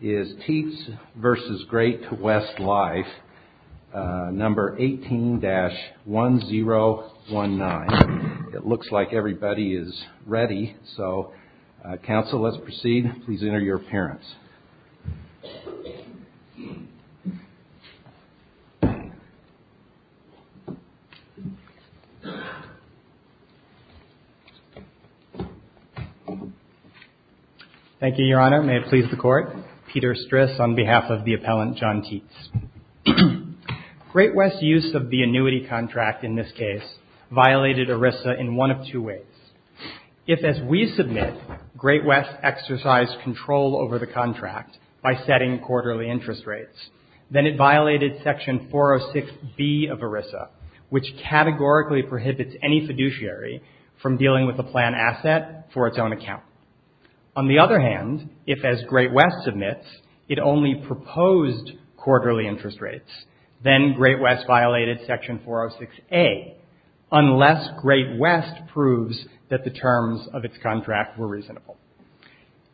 is Teets v. Great West Life, number 18-1019. It looks like everybody is ready. So, counsel, let's proceed. Please enter your appearance. Thank you, Your Honor. May it please the Court. Peter Stris on behalf of the appellant, John Teets. Great West's use of the annuity contract, in this case, violated ERISA in one of two ways. If, as we submit, Great West exercised control over the contract by setting quarterly interest rates, then it violated section 406B of ERISA, which categorically prohibits any fiduciary from dealing with a planned asset for its own account. On the other hand, if, as Great West submits, it only proposed quarterly interest rates, then Great West violated section 406A, unless Great West proves that the terms of its contract were reasonable.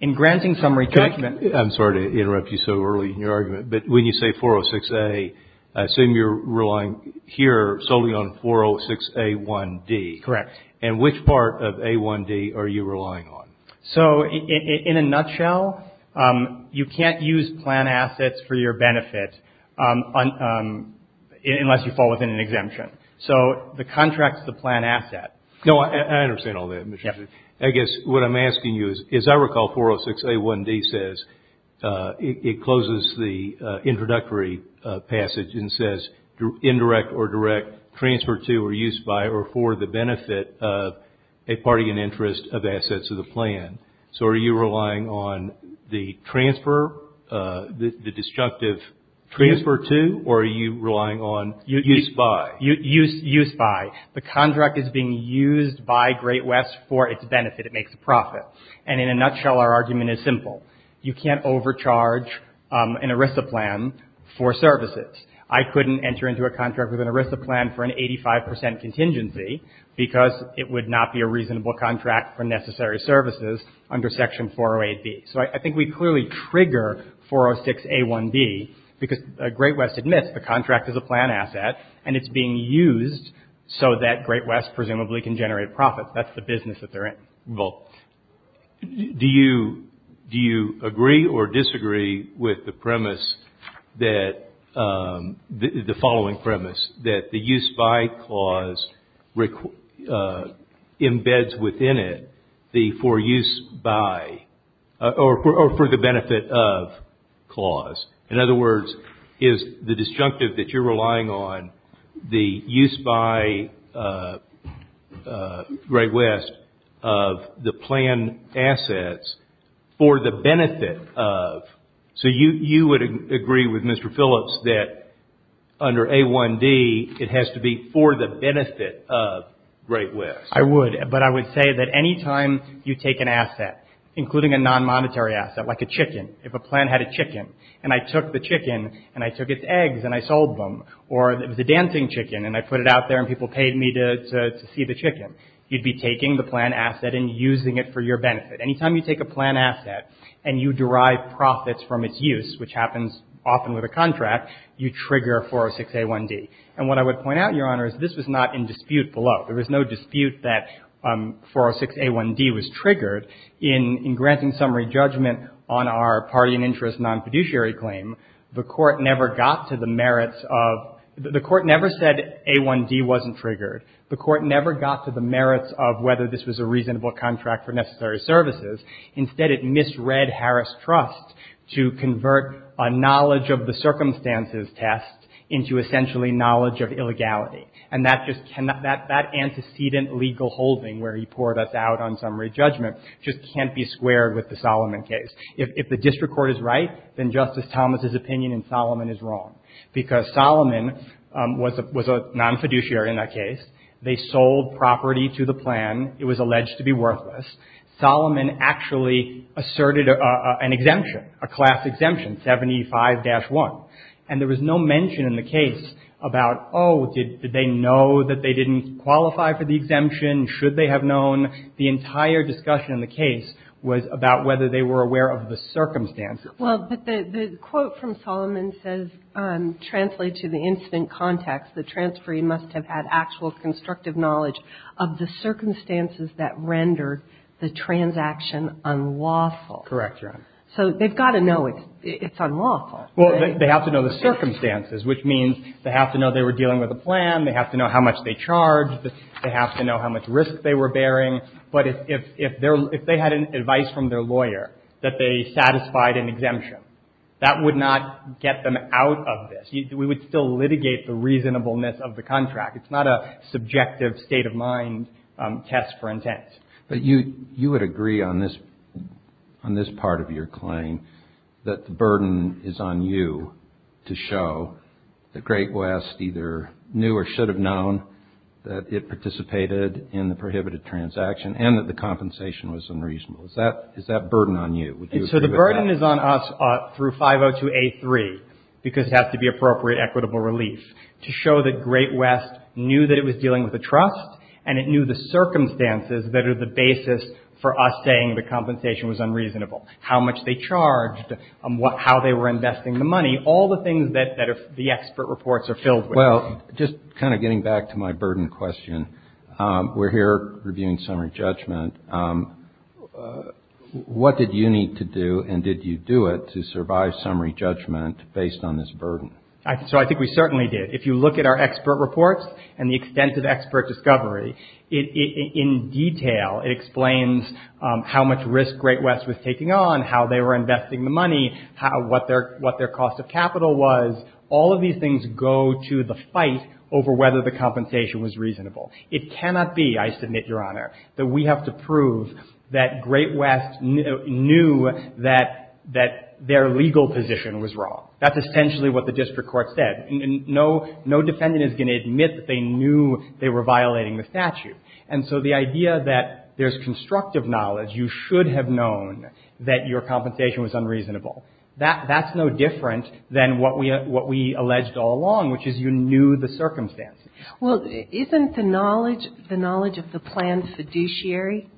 In granting summary judgment... I'm sorry to interrupt you so early in your argument, but when you say 406A, I assume you're relying here solely on 406A1D. Correct. And which part of A1D are you relying on? So, in a nutshell, you can't use planned assets for your benefit unless you fall within an exemption. So, the contract's the planned asset. No, I understand all that. I guess what I'm asking you is, as I recall, 406A1D says, it closes the introductory passage and says, indirect or direct, transferred to or used by or for the benefit of a party in interest of assets of the plan. So, are you relying on the transfer, the disjunctive transfer to, or are you relying on used by? Used by. The contract is being used by Great West for its benefit. It makes a profit. And in a nutshell, our argument is simple. You can't overcharge an ERISA plan for services. I couldn't enter into a contract with an ERISA plan for an 85 percent contingency because it would not be a reasonable contract for necessary services under Section 408B. So, I think we clearly trigger 406A1D because Great West admits the contract is a planned asset and it's being used so that Great West presumably can generate profits. That's the business that they're in. Well, do you agree or disagree with the premise that, the following premise, that the used by clause embeds within it the for use by or for the benefit of clause? In other words, is the disjunctive that you're relying on the used by Great West of the planned assets for the benefit of? So, you would agree with Mr. Phillips that under A1D it has to be for the benefit of Great West? I would. But I would say that any time you take an asset, including a non-monetary asset, like a chicken, if a plan had a chicken and I took the chicken and I took its eggs and I sold them, or it was a dancing chicken and I put it out there and people paid me to see the chicken, you'd be taking the planned asset and using it for your benefit. Any time you take a planned asset and you derive profits from its use, which happens often with a contract, you trigger 406A1D. And what I would point out, Your Honor, is this was not in dispute below. There was no dispute that 406A1D was triggered. In granting summary judgment on our party and interest non-fiduciary claim, the Court never got to the merits of — the Court never said A1D wasn't triggered. The Court never got to the merits of whether this was a reasonable contract for necessary services. Instead, it misread Harris Trust to convert a knowledge of the circumstances test into essentially knowledge of illegality. And that just cannot — that antecedent legal holding where he poured us out on summary judgment just can't be squared with the Solomon case. If the district court is right, then Justice Thomas' opinion in Solomon is wrong because Solomon was a non-fiduciary in that case. They sold property to the plan. It was alleged to be worthless. Solomon actually asserted an exemption, a class exemption, 75-1. And there was no mention in the case about, oh, did they know that they didn't qualify for the exemption? Should they have known? The entire discussion in the case was about whether they were aware of the circumstances. Well, but the quote from Solomon says, translate to the incident context, the transferee must have had actual constructive knowledge of the circumstances that rendered the transaction unlawful. Correct, Your Honor. So they've got to know it's unlawful. Well, they have to know the circumstances, which means they have to know they were dealing with a plan. They have to know how much they charged. They have to know how much risk they were bearing. But if they had advice from their lawyer that they satisfied an exemption, that would not get them out of this. We would still litigate the reasonableness of the contract. It's not a subjective, state-of-mind test for intent. But you would agree on this part of your claim, that the burden is on you to show that Great West either knew or should have known that it participated in the prohibited transaction and that the compensation was unreasonable. Is that burden on you? Would you agree with that? So the burden is on us through 502A3, because it has to be appropriate equitable relief, to show that Great West knew that it was dealing with a trust and it knew the circumstances that are the basis for us saying the compensation was unreasonable, how much they charged, how they were investing the money, all the things that the expert reports are filled with. Well, just kind of getting back to my burden question, we're here reviewing summary judgment. What did you need to do and did you do it to survive summary judgment based on this burden? So I think we certainly did. If you look at our expert reports and the extent of expert discovery, in detail it explains how much risk Great West was taking on, how they were investing the money, what their cost of capital was. All of these things go to the fight over whether the compensation was reasonable. It cannot be, I submit, Your Honor, that we have to prove that Great West knew that their legal position was wrong. That's essentially what the district court said. No defendant is going to admit that they knew they were violating the statute. And so the idea that there's constructive knowledge, you should have known that your compensation was unreasonable, that's no different than what we alleged all along, which is you knew the circumstances. Well, isn't the knowledge the knowledge of the planned fiduciary?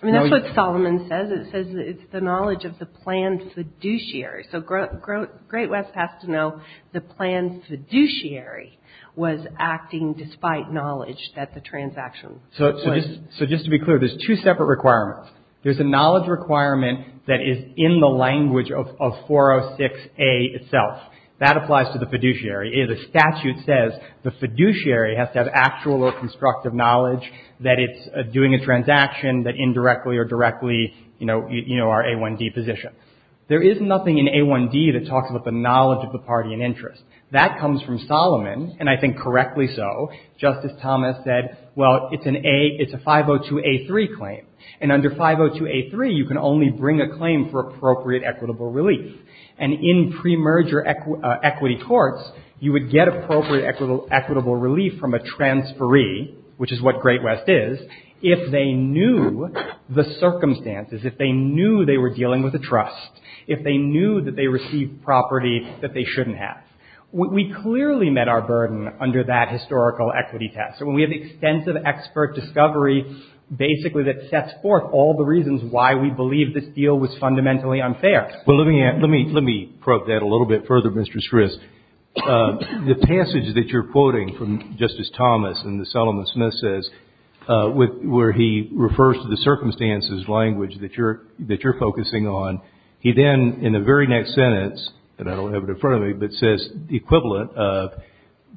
I mean, that's what Solomon says. It says it's the knowledge of the planned fiduciary. So Great West has to know the planned fiduciary was acting despite knowledge that the transaction was. So just to be clear, there's two separate requirements. There's a knowledge requirement that is in the language of 406A itself. That applies to the fiduciary. The statute says the fiduciary has to have actual or constructive knowledge that it's doing a transaction that indirectly or directly, you know, our A1D position. There is nothing in A1D that talks about the knowledge of the party in interest. That comes from Solomon, and I think correctly so. Justice Thomas said, well, it's a 502A3 claim. And under 502A3, you can only bring a claim for appropriate equitable relief. And in premerger equity courts, you would get appropriate equitable relief from a transferee, which is what Great West is, if they knew the circumstances, if they knew they were dealing with a trust, if they knew that they received property that they shouldn't have. We clearly met our burden under that historical equity test. And we have extensive expert discovery, basically, that sets forth all the reasons why we believe this deal was fundamentally unfair. Well, let me probe that a little bit further, Mr. Stris. The passage that you're quoting from Justice Thomas and as Solomon Smith says, where he refers to the circumstances language that you're focusing on, he then, in the very next sentence, and I don't have it in front of me, but says the equivalent of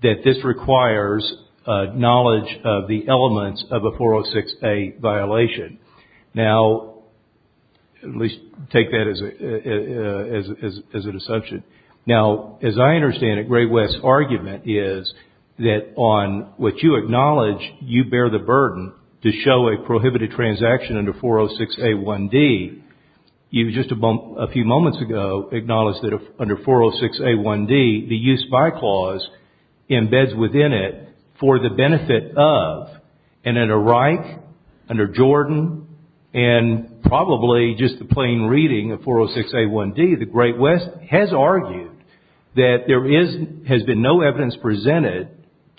that this requires knowledge of the elements of a 406A violation. Now, at least take that as an assumption. Now, as I understand it, Great West's argument is that on what you acknowledge, you bear the burden to show a prohibited transaction under 406A1D. You, just a few moments ago, acknowledged that under 406A1D, the use by clause embeds within it for the benefit of, and in a Reich, under Jordan, and probably just the plain reading of 406A1D, the Great West has argued that there has been no evidence presented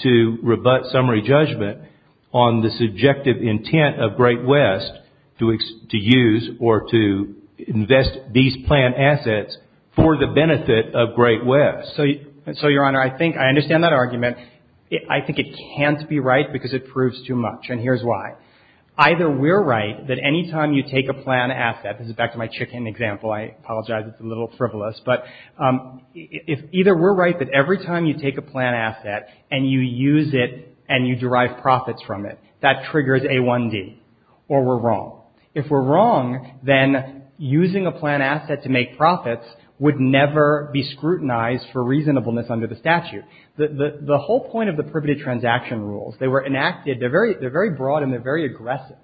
to rebut summary judgment on the subjective intent of Great West to use or to invest these planned assets for the benefit of Great West. So, Your Honor, I think I understand that argument. I think it can't be right because it proves too much, and here's why. Either we're right that any time you take a planned asset, this is back to my chicken example, I apologize, it's a little frivolous, but either we're right that every time you take a planned asset and you use it and you derive profits from it, that triggers A1D, or we're wrong. If we're wrong, then using a planned asset to make profits would never be scrutinized for reasonableness under the statute. The whole point of the prohibited transaction rules, they were enacted, they're very broad and they're very aggressive.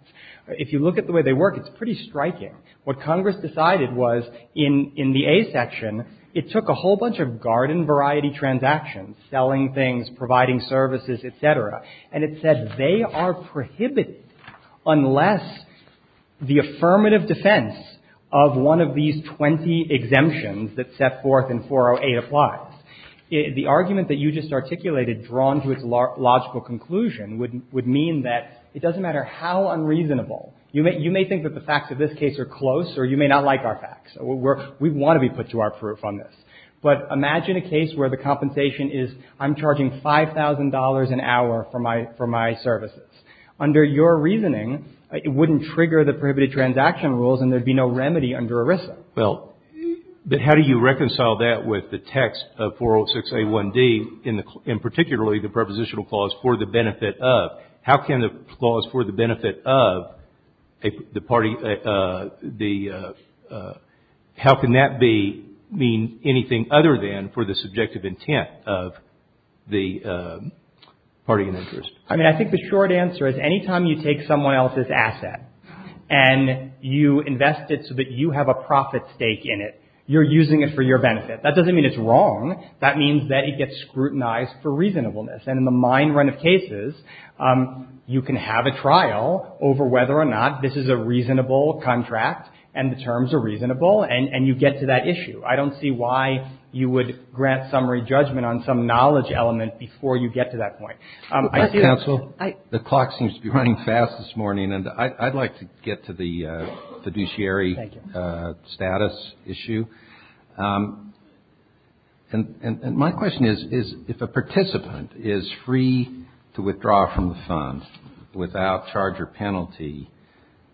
If you look at the way they work, it's pretty striking. What Congress decided was in the A section, it took a whole bunch of garden variety transactions, selling things, providing services, et cetera, and it said they are prohibited unless the affirmative defense of one of these 20 exemptions that set forth in 408 applies. The argument that you just articulated, drawn to its logical conclusion, would mean that it doesn't matter how unreasonable. You may think that the facts of this case are close, or you may not like our facts. We want to be put to our proof on this. But imagine a case where the compensation is I'm charging $5,000 an hour for my services. Under your reasoning, it wouldn't trigger the prohibited transaction rules and there would be no remedy under ERISA. But how do you reconcile that with the text of 406A1D, and particularly the prepositional clause, for the benefit of? How can the clause for the benefit of the party, how can that mean anything other than for the subjective intent of the party in interest? I mean, I think the short answer is anytime you take someone else's asset and you invest it so that you have a profit stake in it, you're using it for your benefit. That doesn't mean it's wrong. That means that it gets scrutinized for reasonableness. And in the mine run of cases, you can have a trial over whether or not this is a reasonable contract and the terms are reasonable, and you get to that issue. I don't see why you would grant summary judgment on some knowledge element before you get to that point. Counsel, the clock seems to be running fast this morning, and I'd like to get to the fiduciary status issue. And my question is, if a participant is free to withdraw from the fund without charge or penalty,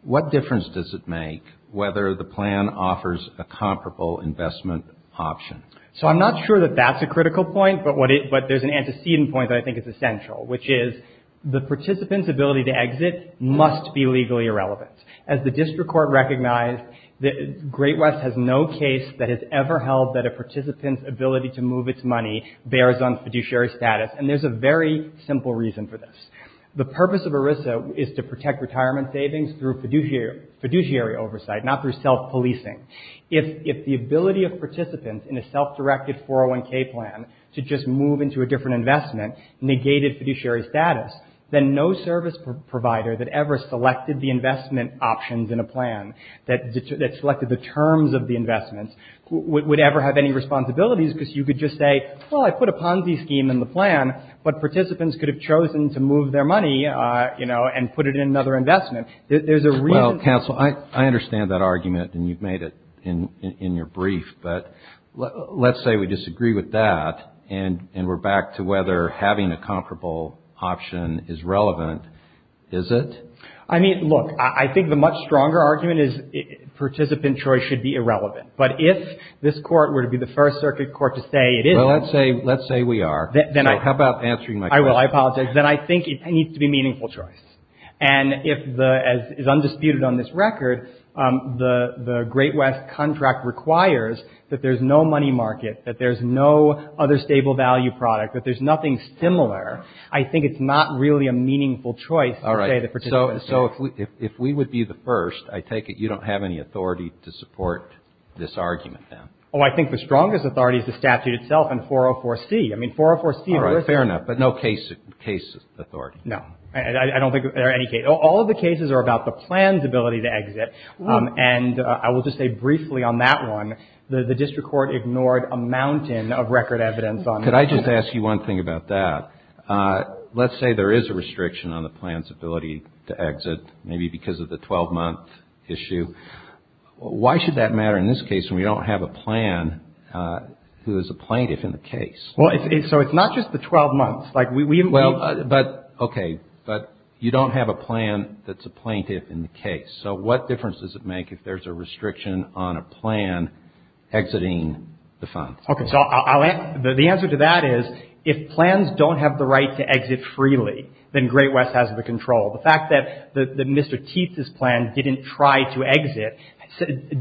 what difference does it make whether the plan offers a comparable investment option? So I'm not sure that that's a critical point, but there's an antecedent point that I think is essential, which is the participant's ability to exit must be legally irrelevant. As the district court recognized, Great West has no case that has ever held that a participant's ability to move its money bears on fiduciary status, and there's a very simple reason for this. The purpose of ERISA is to protect retirement savings through fiduciary oversight, not through self-policing. If the ability of participants in a self-directed 401k plan to just move into a different investment negated fiduciary status, then no service provider that ever selected the investment options in a plan, that selected the terms of the investments, would ever have any responsibilities, because you could just say, well, I put a Ponzi scheme in the plan, but participants could have chosen to move their money, you know, and put it in another investment. There's a reason. Well, counsel, I understand that argument, and you've made it in your brief, but let's say we disagree with that, and we're back to whether having a comparable option is relevant. Is it? I mean, look, I think the much stronger argument is participant choice should be irrelevant, but if this court were to be the first circuit court to say it isn't. Well, let's say we are. How about answering my question? I will. I apologize. Then I think it needs to be meaningful choice. And if the, as is undisputed on this record, the Great West contract requires that there's no money market, that there's no other stable value product, that there's nothing similar, I think it's not really a meaningful choice to say the participants. All right. So if we would be the first, I take it you don't have any authority to support this argument, then? Oh, I think the strongest authority is the statute itself and 404C. I mean, 404C. All right. Fair enough. But no case authority. No. I don't think there are any cases. All of the cases are about the plan's ability to exit. And I will just say briefly on that one, the district court ignored a mountain of record evidence on that. Could I just ask you one thing about that? Let's say there is a restriction on the plan's ability to exit, maybe because of the 12-month issue. Why should that matter in this case when we don't have a plan who is a plaintiff in the case? Well, so it's not just the 12 months. Okay. But you don't have a plan that's a plaintiff in the case. So what difference does it make if there's a restriction on a plan exiting the fund? Okay. So the answer to that is if plans don't have the right to exit freely, then Great West has the control. The fact that Mr. Teeth's plan didn't try to exit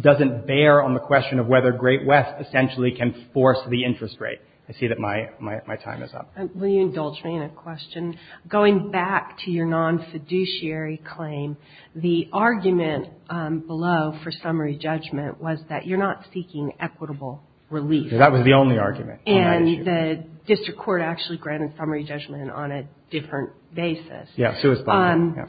doesn't bear on the question of whether Great West essentially can force the interest rate. I see that my time is up. Will you indulge me in a question? Going back to your non-fiduciary claim, the argument below for summary judgment was that you're not seeking equitable relief. That was the only argument on that issue. And the district court actually granted summary judgment on a different basis. Yes, it was funded.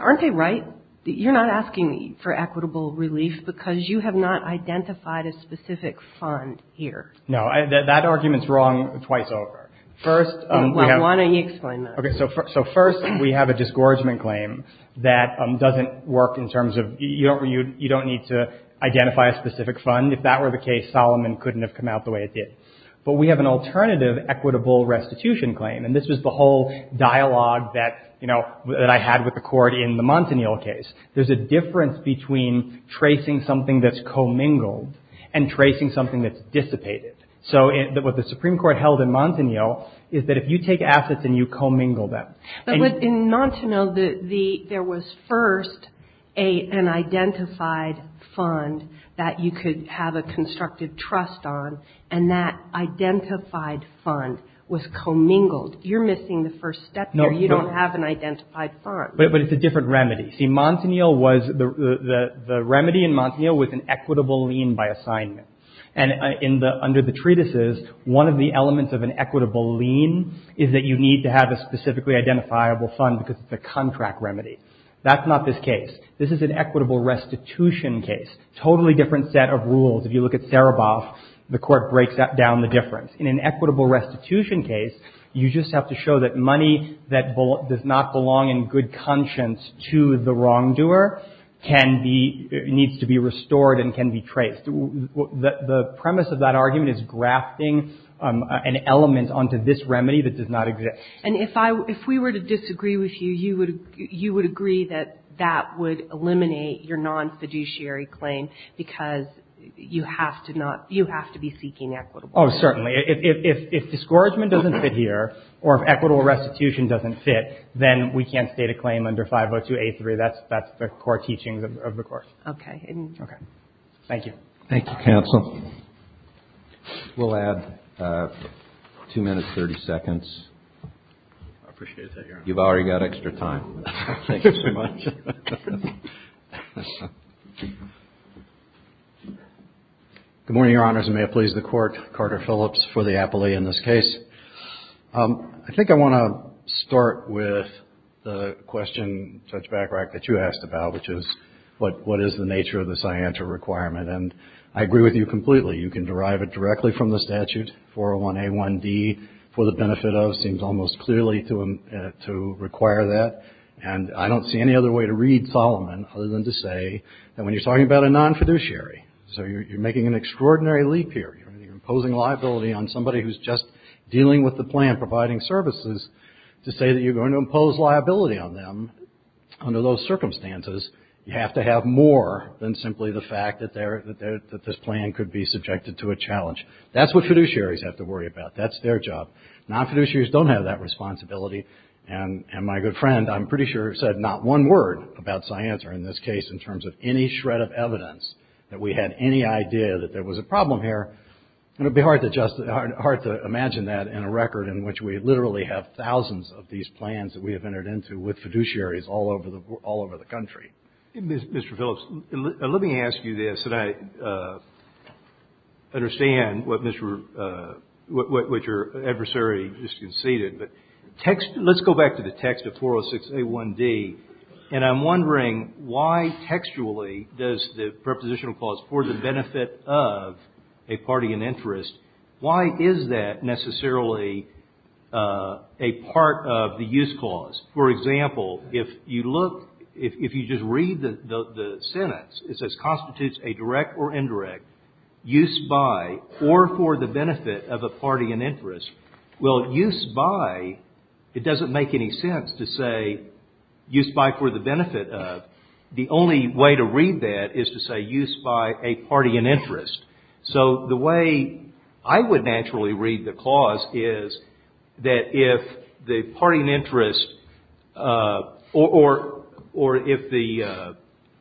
Aren't they right? You're not asking for equitable relief because you have not identified a specific fund here. No. That argument's wrong twice over. First, we have — Well, why don't you explain that? Okay. So first, we have a disgorgement claim that doesn't work in terms of you don't need to identify a specific fund. If that were the case, Solomon couldn't have come out the way it did. But we have an alternative equitable restitution claim. And this was the whole dialogue that, you know, that I had with the Court in the Montanil case. There's a difference between tracing something that's commingled and tracing something that's dissipated. So what the Supreme Court held in Montanil is that if you take assets and you commingle them. But in Montanil, there was first an identified fund that you could have a constructive trust on. And that identified fund was commingled. You're missing the first step here. You don't have an identified fund. But it's a different remedy. See, Montanil was — the remedy in Montanil was an equitable lien by assignment. And in the — under the treatises, one of the elements of an equitable lien is that you need to have a specifically identifiable fund because it's a contract remedy. That's not this case. This is an equitable restitution case. Totally different set of rules. If you look at Sereboff, the Court breaks down the difference. In an equitable restitution case, you just have to show that money that does not belong in good conscience to the wrongdoer can be — needs to be restored and can be traced. The premise of that argument is grafting an element onto this remedy that does not exist. And if I — if we were to disagree with you, you would — you would agree that that would eliminate your non-fiduciary claim because you have to not — you have to be seeking equitable. Oh, certainly. If — if — if discouragement doesn't fit here or if equitable restitution doesn't fit, then we can't state a claim under 502A3. That's — that's the core teachings of the Court. Okay. Okay. Thank you. Thank you, counsel. We'll add 2 minutes, 30 seconds. I appreciate that, Your Honor. You've already got extra time. Thank you so much. Good morning, Your Honors, and may it please the Court. Carter Phillips for the appellee in this case. I think I want to start with the question, Judge Bachrach, that you asked about, which is what — what is the nature of the scienter requirement? And I agree with you completely. You can derive it directly from the statute. 401A1D, for the benefit of, seems almost clearly to — to require that. And I don't see any other way to read Solomon other than to say that when you're talking about a non-fiduciary, so you're making an extraordinary leap here. You're imposing liability on somebody who's just dealing with the plan, providing services, to say that you're going to impose liability on them under those circumstances. You have to have more than simply the fact that they're — that this plan could be subjected to a challenge. That's what fiduciaries have to worry about. That's their job. Non-fiduciaries don't have that responsibility. And my good friend, I'm pretty sure, said not one word about scienter in this case in terms of any shred of evidence that we had any idea that there was a problem here. And it would be hard to just — hard to imagine that in a record in which we literally have thousands of these plans that we have entered into with fiduciaries all over the — all over the country. Mr. Phillips, let me ask you this, that I understand what Mr. — what your adversary just conceded. But text — let's go back to the text of 406A1D, and I'm wondering why textually does the prepositional clause, for the benefit of a party in interest, why is that necessarily a part of the use clause? For example, if you look — if you just read the sentence, it says constitutes a direct or indirect use by or for the benefit of a party in interest. Well, use by, it doesn't make any sense to say use by for the benefit of. The only way to read that is to say use by a party in interest. So the way I would naturally read the clause is that if the party in interest — or if the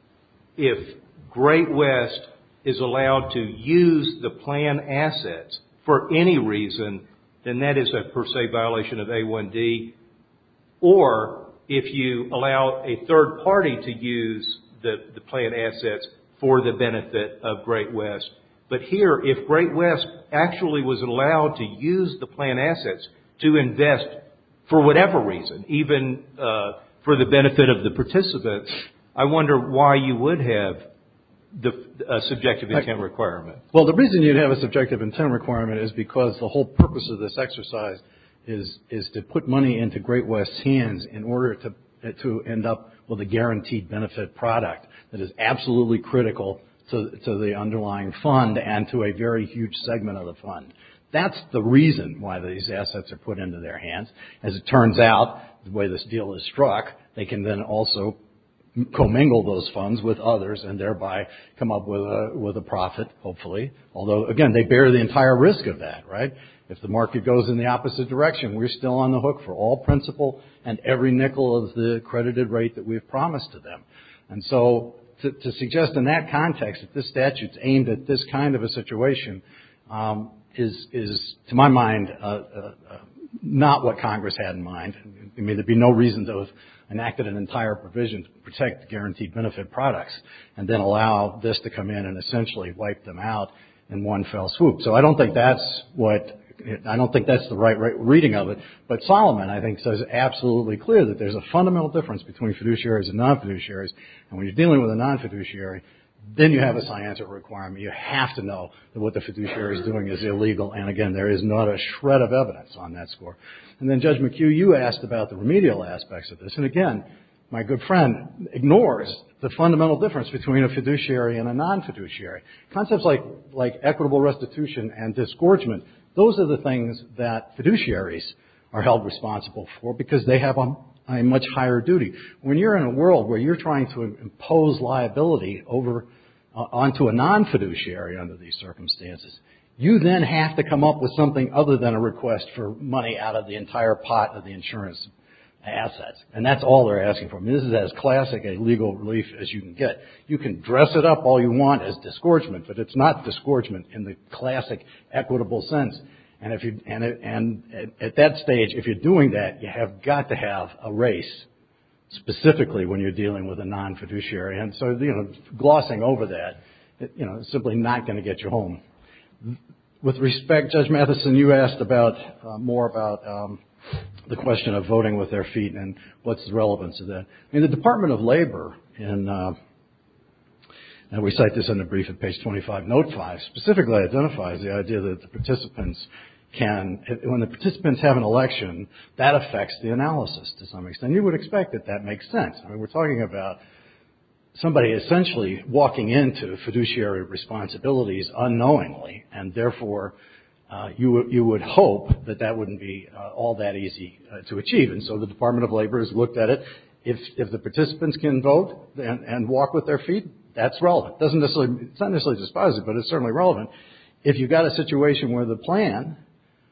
— if Great West is allowed to use the plan assets for any reason, then that is a per se violation of A1D. Or if you allow a third party to use the plan assets for the benefit of Great West. But here, if Great West actually was allowed to use the plan assets to invest for whatever reason, even for the benefit of the participants, I wonder why you would have the subjective intent requirement. Well, the reason you'd have a subjective intent requirement is because the whole purpose of this exercise is to put money into Great West's hands in order to end up with a guaranteed benefit product that is absolutely critical to the underlying fund and to a very huge segment of the fund. That's the reason why these assets are put into their hands. As it turns out, the way this deal is struck, they can then also commingle those funds with others and thereby come up with a profit, hopefully. Although, again, they bear the entire risk of that, right? If the market goes in the opposite direction, we're still on the hook for all principal and every nickel of the credited rate that we've promised to them. And so to suggest in that context that this statute's aimed at this kind of a situation is, to my mind, not what Congress had in mind. I mean, there'd be no reason to have enacted an entire provision to protect guaranteed benefit products. And then allow this to come in and essentially wipe them out in one fell swoop. So I don't think that's what — I don't think that's the right reading of it. But Solomon, I think, says absolutely clear that there's a fundamental difference between fiduciaries and non-fiduciaries. And when you're dealing with a non-fiduciary, then you have a science of requirement. You have to know that what the fiduciary is doing is illegal. And, again, there is not a shred of evidence on that score. And then, Judge McHugh, you asked about the remedial aspects of this. And, again, my good friend ignores the fundamental difference between a fiduciary and a non-fiduciary. Concepts like equitable restitution and disgorgement, those are the things that fiduciaries are held responsible for because they have a much higher duty. When you're in a world where you're trying to impose liability onto a non-fiduciary under these circumstances, you then have to come up with something other than a request for money out of the entire pot of the insurance assets. And that's all they're asking for. I mean, this is as classic a legal relief as you can get. You can dress it up all you want as disgorgement, but it's not disgorgement in the classic equitable sense. And at that stage, if you're doing that, you have got to have a race, specifically when you're dealing with a non-fiduciary. And so, you know, glossing over that, you know, is simply not going to get you home. With respect, Judge Matheson, you asked about more about the question of voting with their feet and what's the relevance of that. In the Department of Labor, and we cite this in the brief at page 25, note five, specifically identifies the idea that the participants can, when the participants have an election, that affects the analysis to some extent. You would expect that that makes sense. I mean, we're talking about somebody essentially walking into fiduciary responsibilities unknowingly, and therefore you would hope that that wouldn't be all that easy to achieve. And so the Department of Labor has looked at it. If the participants can vote and walk with their feet, that's relevant. It's not necessarily dispositive, but it's certainly relevant. If you've got a situation where the plan,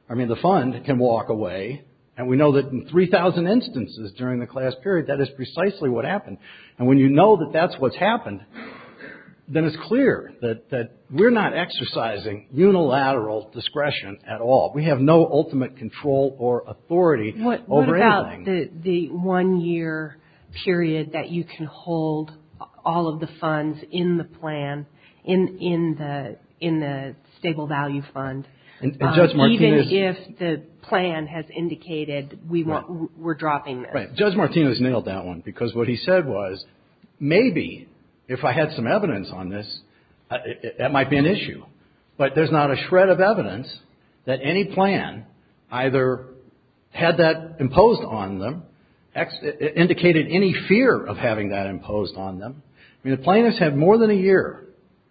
I mean, the fund can walk away, and we know that in 3,000 instances during the class period, that is precisely what happened. And when you know that that's what's happened, then it's clear that we're not exercising unilateral discretion at all. We have no ultimate control or authority over anything. What about the one-year period that you can hold all of the funds in the plan, in the stable value fund? Even if the plan has indicated we're dropping this. Right. Judge Martinez nailed that one. Because what he said was, maybe if I had some evidence on this, that might be an issue. But there's not a shred of evidence that any plan either had that imposed on them, indicated any fear of having that imposed on them. I mean, the plaintiffs had more than a year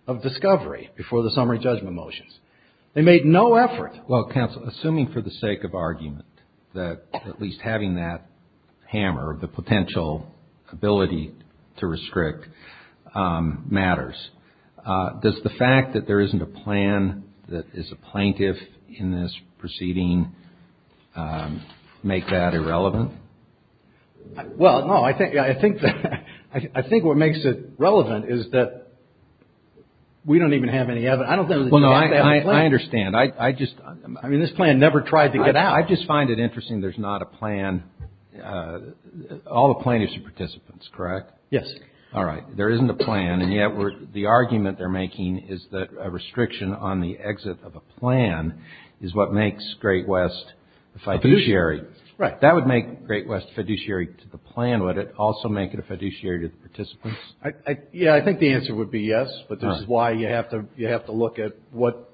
of discovery before the summary judgment motions. They made no effort. Well, counsel, assuming for the sake of argument that at least having that hammer, the potential ability to restrict, matters, does the fact that there isn't a plan that is a plaintiff in this proceeding make that irrelevant? Well, no, I think what makes it relevant is that we don't even have any evidence. Well, no, I understand. I mean, this plan never tried to get out. I just find it interesting there's not a plan. All the plaintiffs are participants, correct? Yes. All right. There isn't a plan, and yet the argument they're making is that a restriction on the exit of a plan is what makes Great West a fiduciary. Right. That would make Great West a fiduciary to the plan, would it? Also make it a fiduciary to the participants? Yeah, I think the answer would be yes. But this is why you have to look at what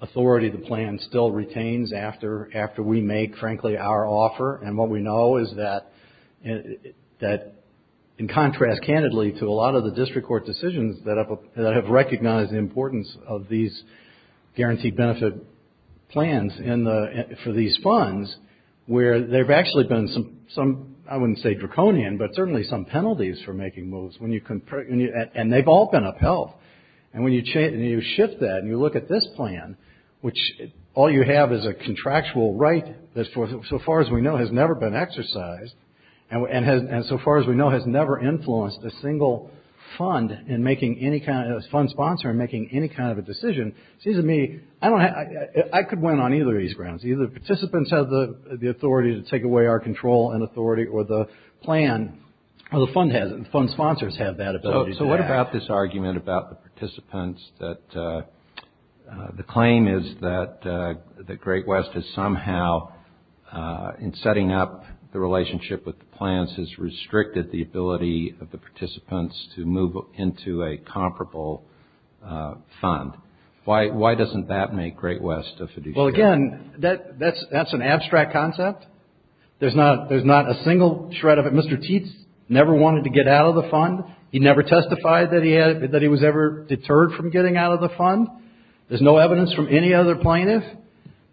authority the plan still retains after we make, frankly, our offer. And what we know is that, in contrast, candidly, to a lot of the district court decisions that have recognized the importance of these guaranteed benefit plans for these funds, where there have actually been some, I wouldn't say draconian, but certainly some penalties for making moves. And they've all been upheld. And when you shift that and you look at this plan, which all you have is a contractual right that so far as we know has never been exercised and so far as we know has never influenced a single fund sponsor in making any kind of a decision, it seems to me I could win on either of these grounds. Either the participants have the authority to take away our control and authority or the plan or the fund sponsors have that ability. So what about this argument about the participants that the claim is that the Great West has somehow, in setting up the relationship with the plans, has restricted the ability of the participants to move into a comparable fund? Why doesn't that make Great West a fiduciary? Well, again, that's an abstract concept. There's not a single shred of it. Mr. Tietz never wanted to get out of the fund. He never testified that he was ever deterred from getting out of the fund. There's no evidence from any other plaintiff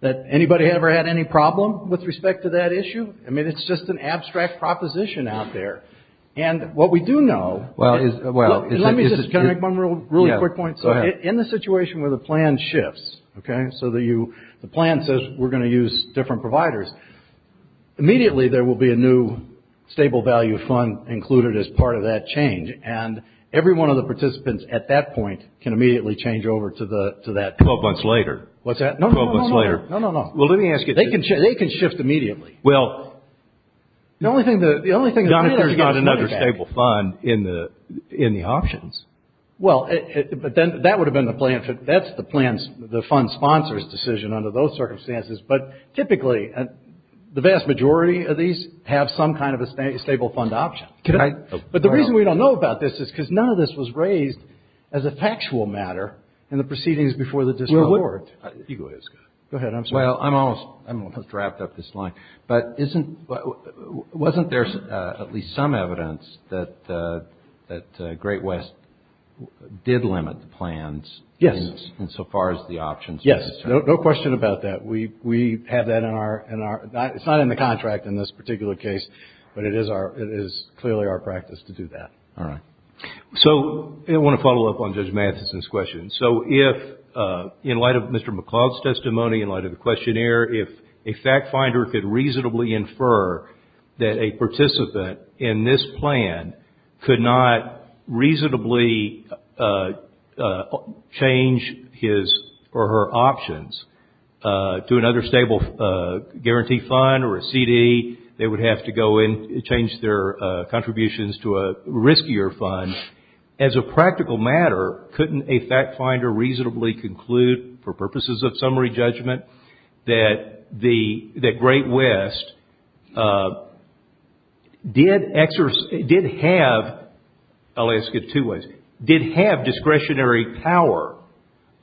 that anybody ever had any problem with respect to that issue. I mean, it's just an abstract proposition out there. And what we do know, let me just make one really quick point. In the situation where the plan shifts, okay, so the plan says we're going to use different providers, immediately there will be a new stable value fund included as part of that change. And every one of the participants at that point can immediately change over to that fund. Twelve months later. What's that? No, no, no. Twelve months later. No, no, no. Well, let me ask you. They can shift immediately. Well, the only thing that matters is getting money back. There's not another stable fund in the options. Well, but then that would have been the plan. That's the fund sponsor's decision under those circumstances. But typically, the vast majority of these have some kind of a stable fund option. But the reason we don't know about this is because none of this was raised as a factual matter in the proceedings before the disclosure. You go ahead, Scott. Go ahead, I'm sorry. Well, I'm almost wrapped up this line. But wasn't there at least some evidence that Great West did limit the plans in so far as the options? Yes. No question about that. We have that in our – it's not in the contract in this particular case, but it is clearly our practice to do that. All right. So I want to follow up on Judge Matheson's question. So if, in light of Mr. McLeod's testimony, in light of the questionnaire, if a fact finder could reasonably infer that a participant in this plan could not reasonably change his or her options to another stable guarantee fund or a CD, they would have to go and change their contributions to a riskier fund. As a practical matter, couldn't a fact finder reasonably conclude, for purposes of summary judgment, that Great West did have – I'll ask it two ways – did have discretionary power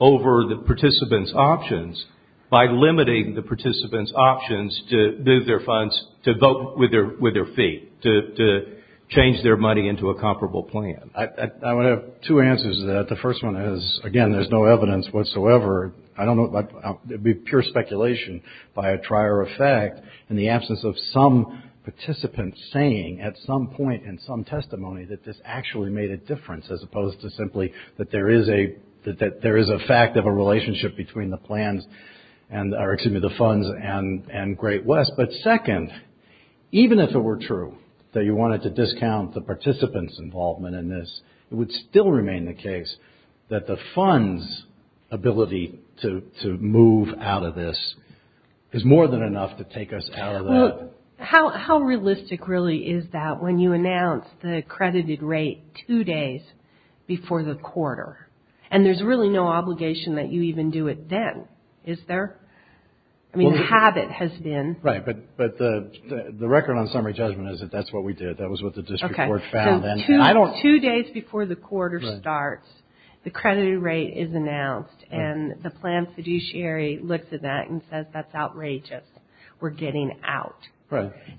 over the participants' options by limiting the participants' options to move their funds, to vote with their feet, to change their money into a comparable plan? I would have two answers to that. The first one is, again, there's no evidence whatsoever. I don't know – it would be pure speculation by a trier of fact in the absence of some participant saying at some point in some testimony that this actually made a difference as opposed to simply that there is a fact of a relationship between the plans – or, excuse me, the funds and Great West. But second, even if it were true that you wanted to discount the participants' involvement in this, it would still remain the case that the funds' ability to move out of this is more than enough to take us out of that. Well, how realistic really is that when you announce the accredited rate two days before the quarter? And there's really no obligation that you even do it then, is there? I mean, the habit has been – Right, but the record on summary judgment is that that's what we did. That was what the district court found. Two days before the quarter starts, the accredited rate is announced, and the plan fiduciary looks at that and says, that's outrageous. We're getting out.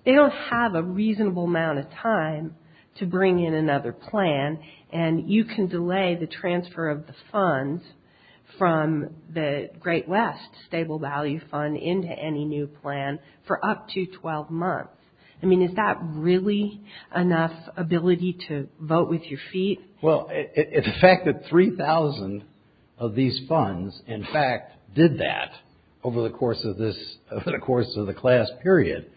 They don't have a reasonable amount of time to bring in another plan, and you can delay the transfer of the funds from the Great West Stable Value Fund into any new plan for up to 12 months. I mean, is that really enough ability to vote with your feet? Well, it's a fact that 3,000 of these funds, in fact, did that over the course of the class period,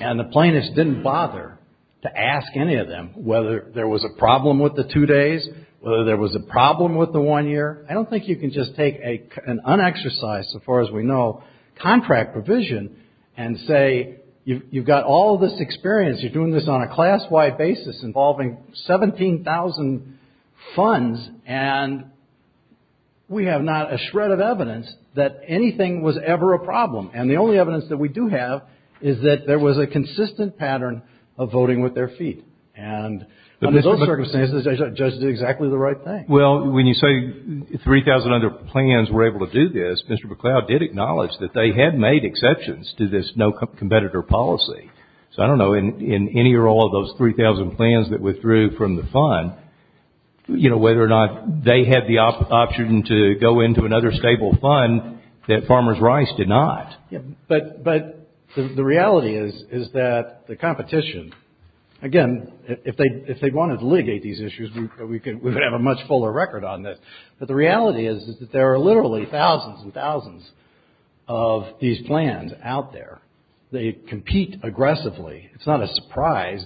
and the plaintiffs didn't bother to ask any of them whether there was a problem with the two days, whether there was a problem with the one year. I don't think you can just take an unexercised, so far as we know, contract provision and say, you've got all this experience, you're doing this on a class-wide basis involving 17,000 funds, and we have not a shred of evidence that anything was ever a problem. And the only evidence that we do have is that there was a consistent pattern of voting with their feet. And under those circumstances, the judge did exactly the right thing. Well, when you say 3,000 other plans were able to do this, Mr. McCloud did acknowledge that they had made exceptions to this no competitor policy. So I don't know, in any or all of those 3,000 plans that withdrew from the fund, whether or not they had the option to go into another stable fund that Farmers Rice did not. But the reality is that the competition, again, if they wanted to litigate these issues, we would have a much fuller record on this. But the reality is that there are literally thousands and thousands of these plans out there. They compete aggressively. It's not a surprise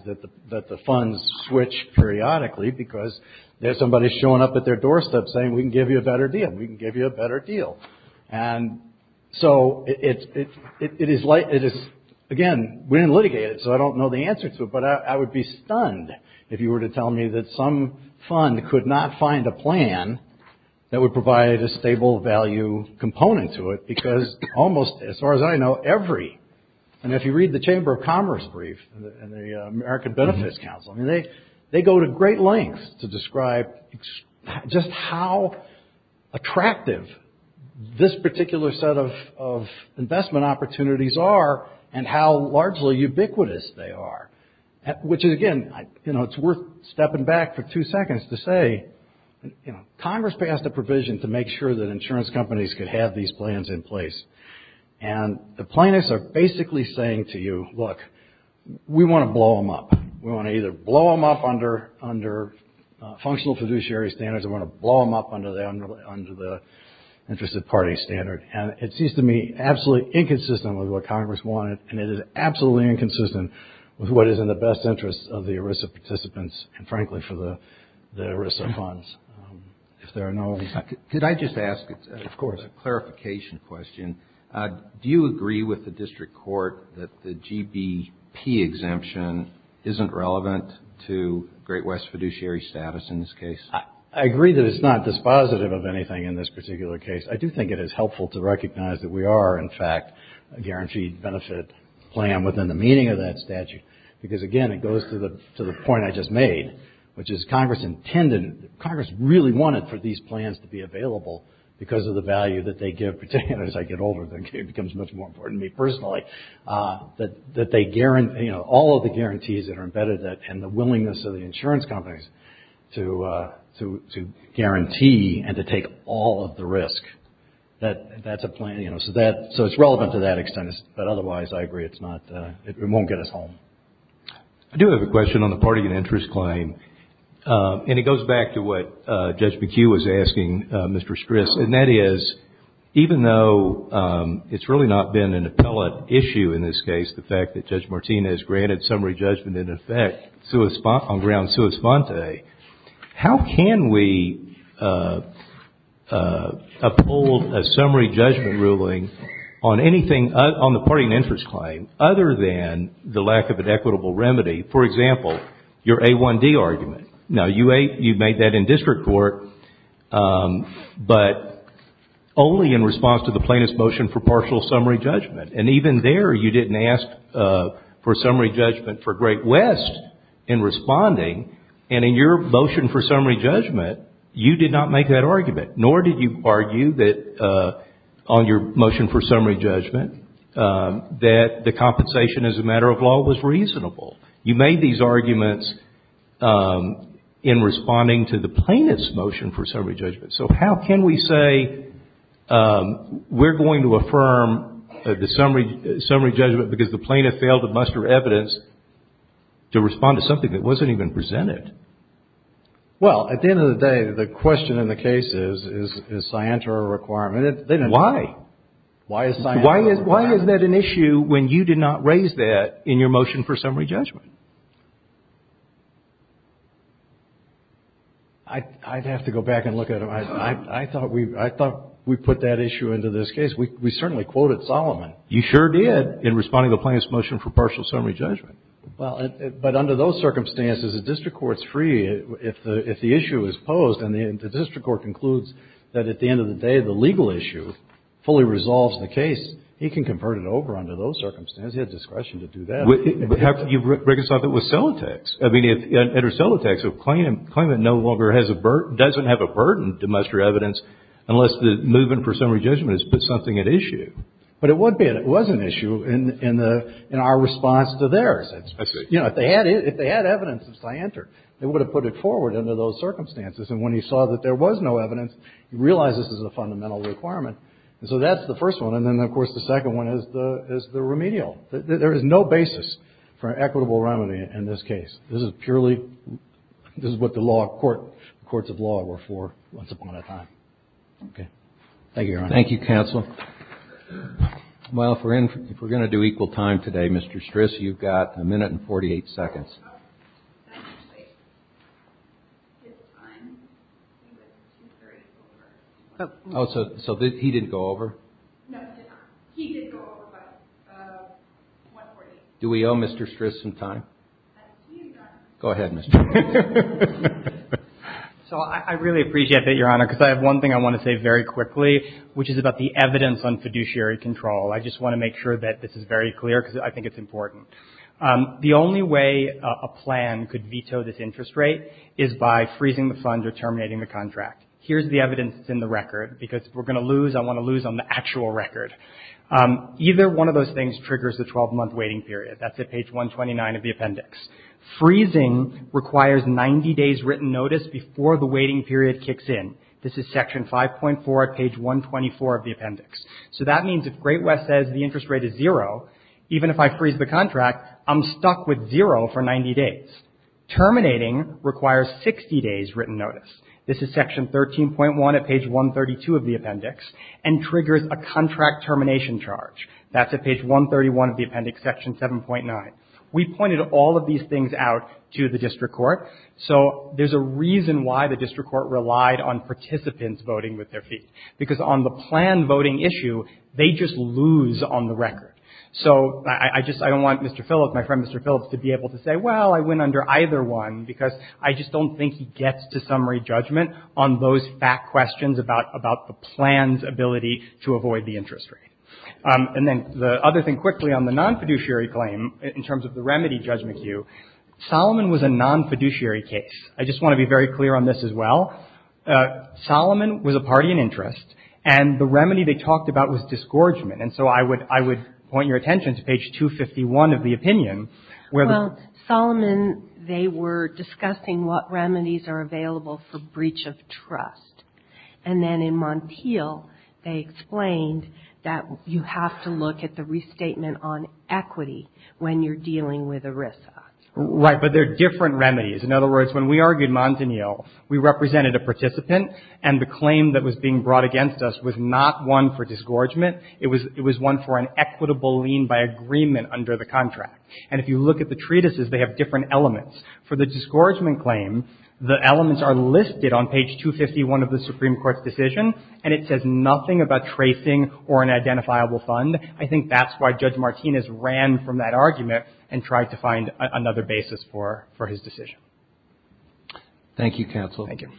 that the funds switch periodically, because there's somebody showing up at their doorstep saying, we can give you a better deal, we can give you a better deal. And so it is, again, we didn't litigate it, so I don't know the answer to it, but I would be stunned if you were to tell me that some fund could not find a plan that would provide a stable value component to it, because almost, as far as I know, every, and if you read the Chamber of Commerce brief and the American Benefits Council, they go to great lengths to describe just how attractive this particular set of investment opportunities are and how largely ubiquitous they are. Which, again, you know, it's worth stepping back for two seconds to say, you know, Congress passed a provision to make sure that insurance companies could have these plans in place. And the plaintiffs are basically saying to you, look, we want to blow them up. We want to either blow them up under functional fiduciary standards or we want to blow them up under the interest of party standard. And it seems to me absolutely inconsistent with what Congress wanted, and it is absolutely inconsistent with what is in the best interest of the ERISA participants and, frankly, for the ERISA funds. Could I just ask a clarification question? Do you agree with the district court that the GBP exemption isn't relevant to Great West fiduciary status in this case? I agree that it's not dispositive of anything in this particular case. I do think it is helpful to recognize that we are, in fact, a guaranteed benefit plan within the meaning of that statute, because, again, it goes to the point I just made, which is Congress intended, Congress really wanted for these plans to be available because of the value that they give, particularly as I get older, it becomes much more important to me personally, that they guarantee, you know, all of the guarantees that are embedded in it and the willingness of the insurance companies to guarantee and to take all of the risk. That's a plan, you know, so it's relevant to that extent, but otherwise I agree it's not, it won't get us home. I do have a question on the party and interest claim, and it goes back to what Judge McHugh was asking Mr. Stris, and that is, even though it's really not been an appellate issue in this case, the fact that Judge Martinez granted summary judgment in effect on ground sua sponte, how can we uphold a summary judgment ruling on anything, on the party and interest claim, other than the lack of an equitable remedy, for example, your A1D argument? Now, you made that in district court, but only in response to the plaintiff's motion for partial summary judgment, and even there you didn't ask for summary judgment for Great West in responding, and in your motion for summary judgment, you did not make that argument, nor did you argue that on your motion for summary judgment, that the compensation as a matter of law was reasonable. You made these arguments in responding to the plaintiff's motion for summary judgment, so how can we say we're going to affirm the summary judgment because the plaintiff failed to muster evidence to respond to something that wasn't even presented? Well, at the end of the day, the question in the case is, is Scienter a requirement? Why? Why is that an issue when you did not raise that in your motion for summary judgment? I'd have to go back and look at it. I thought we put that issue into this case. We certainly quoted Solomon. You sure did, in responding to the plaintiff's motion for partial summary judgment. Well, but under those circumstances, the district court's free if the issue is posed, and the district court concludes that at the end of the day, the legal issue fully resolves the case. He can convert it over under those circumstances. He has discretion to do that. But you've reconciled it with Celotex. I mean, under Celotex, a claimant no longer has a burden, doesn't have a burden to muster evidence, unless the movement for summary judgment has put something at issue. But it would be, and it was an issue in our response to theirs. That's right. You know, if they had evidence of Scienter, they would have put it forward under those circumstances. And when he saw that there was no evidence, he realized this is a fundamental requirement. And so that's the first one. And then, of course, the second one is the remedial. There is no basis for an equitable remedy in this case. This is purely what the courts of law were for once upon a time. Okay. Thank you, Your Honor. Thank you, counsel. Well, if we're going to do equal time today, Mr. Stris, you've got a minute and 48 seconds. Oh, so he didn't go over? No, he did not. He did go over by 1 minute and 48 seconds. Do we owe Mr. Stris some time? Go ahead, Mr. Stris. So I really appreciate that, Your Honor, because I have one thing I want to say very quickly, which is about the evidence on fiduciary control. I just want to make sure that this is very clear, because I think it's important. The only way a plan could veto this interest rate is by freezing the fund or terminating the contract. Here's the evidence that's in the record, because if we're going to lose, I want to lose on the actual record. Either one of those things triggers the 12-month waiting period. That's at page 129 of the appendix. Freezing requires 90 days' written notice before the waiting period kicks in. This is section 5.4 at page 124 of the appendix. So that means if Great West says the interest rate is zero, even if I freeze the contract, I'm stuck with zero for 90 days. Terminating requires 60 days' written notice. This is section 13.1 at page 132 of the appendix, and triggers a contract termination charge. That's at page 131 of the appendix, section 7.9. We pointed all of these things out to the district court. So there's a reason why the district court relied on participants voting with their feet, because on the plan voting issue, they just lose on the record. So I just don't want Mr. Phillips, my friend Mr. Phillips, to be able to say, well, I win under either one, because I just don't think he gets to summary judgment on those fat questions about the plan's ability to avoid the interest rate. And then the other thing quickly on the non-fiduciary claim, in terms of the remedy judgment queue, Solomon was a non-fiduciary case. I just want to be very clear on this as well. Solomon was a party in interest, and the remedy they talked about was disgorgement. And so I would point your attention to page 251 of the opinion, where the ---- You have to look at the restatement on equity when you're dealing with ERISA. Right. But there are different remedies. In other words, when we argued Montagnier, we represented a participant, and the claim that was being brought against us was not one for disgorgement. It was one for an equitable lien by agreement under the contract. And if you look at the treatises, they have different elements. For the disgorgement claim, the elements are listed on page 251 of the Supreme Court's decision, and it says nothing about tracing or an identifiable fund. I think that's why Judge Martinez ran from that argument and tried to find another basis for his decision. Thank you, counsel. Thank you.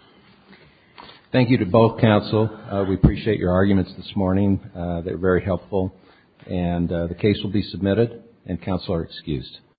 Thank you to both counsel. We appreciate your arguments this morning. They're very helpful. And the case will be submitted, and counsel are excused.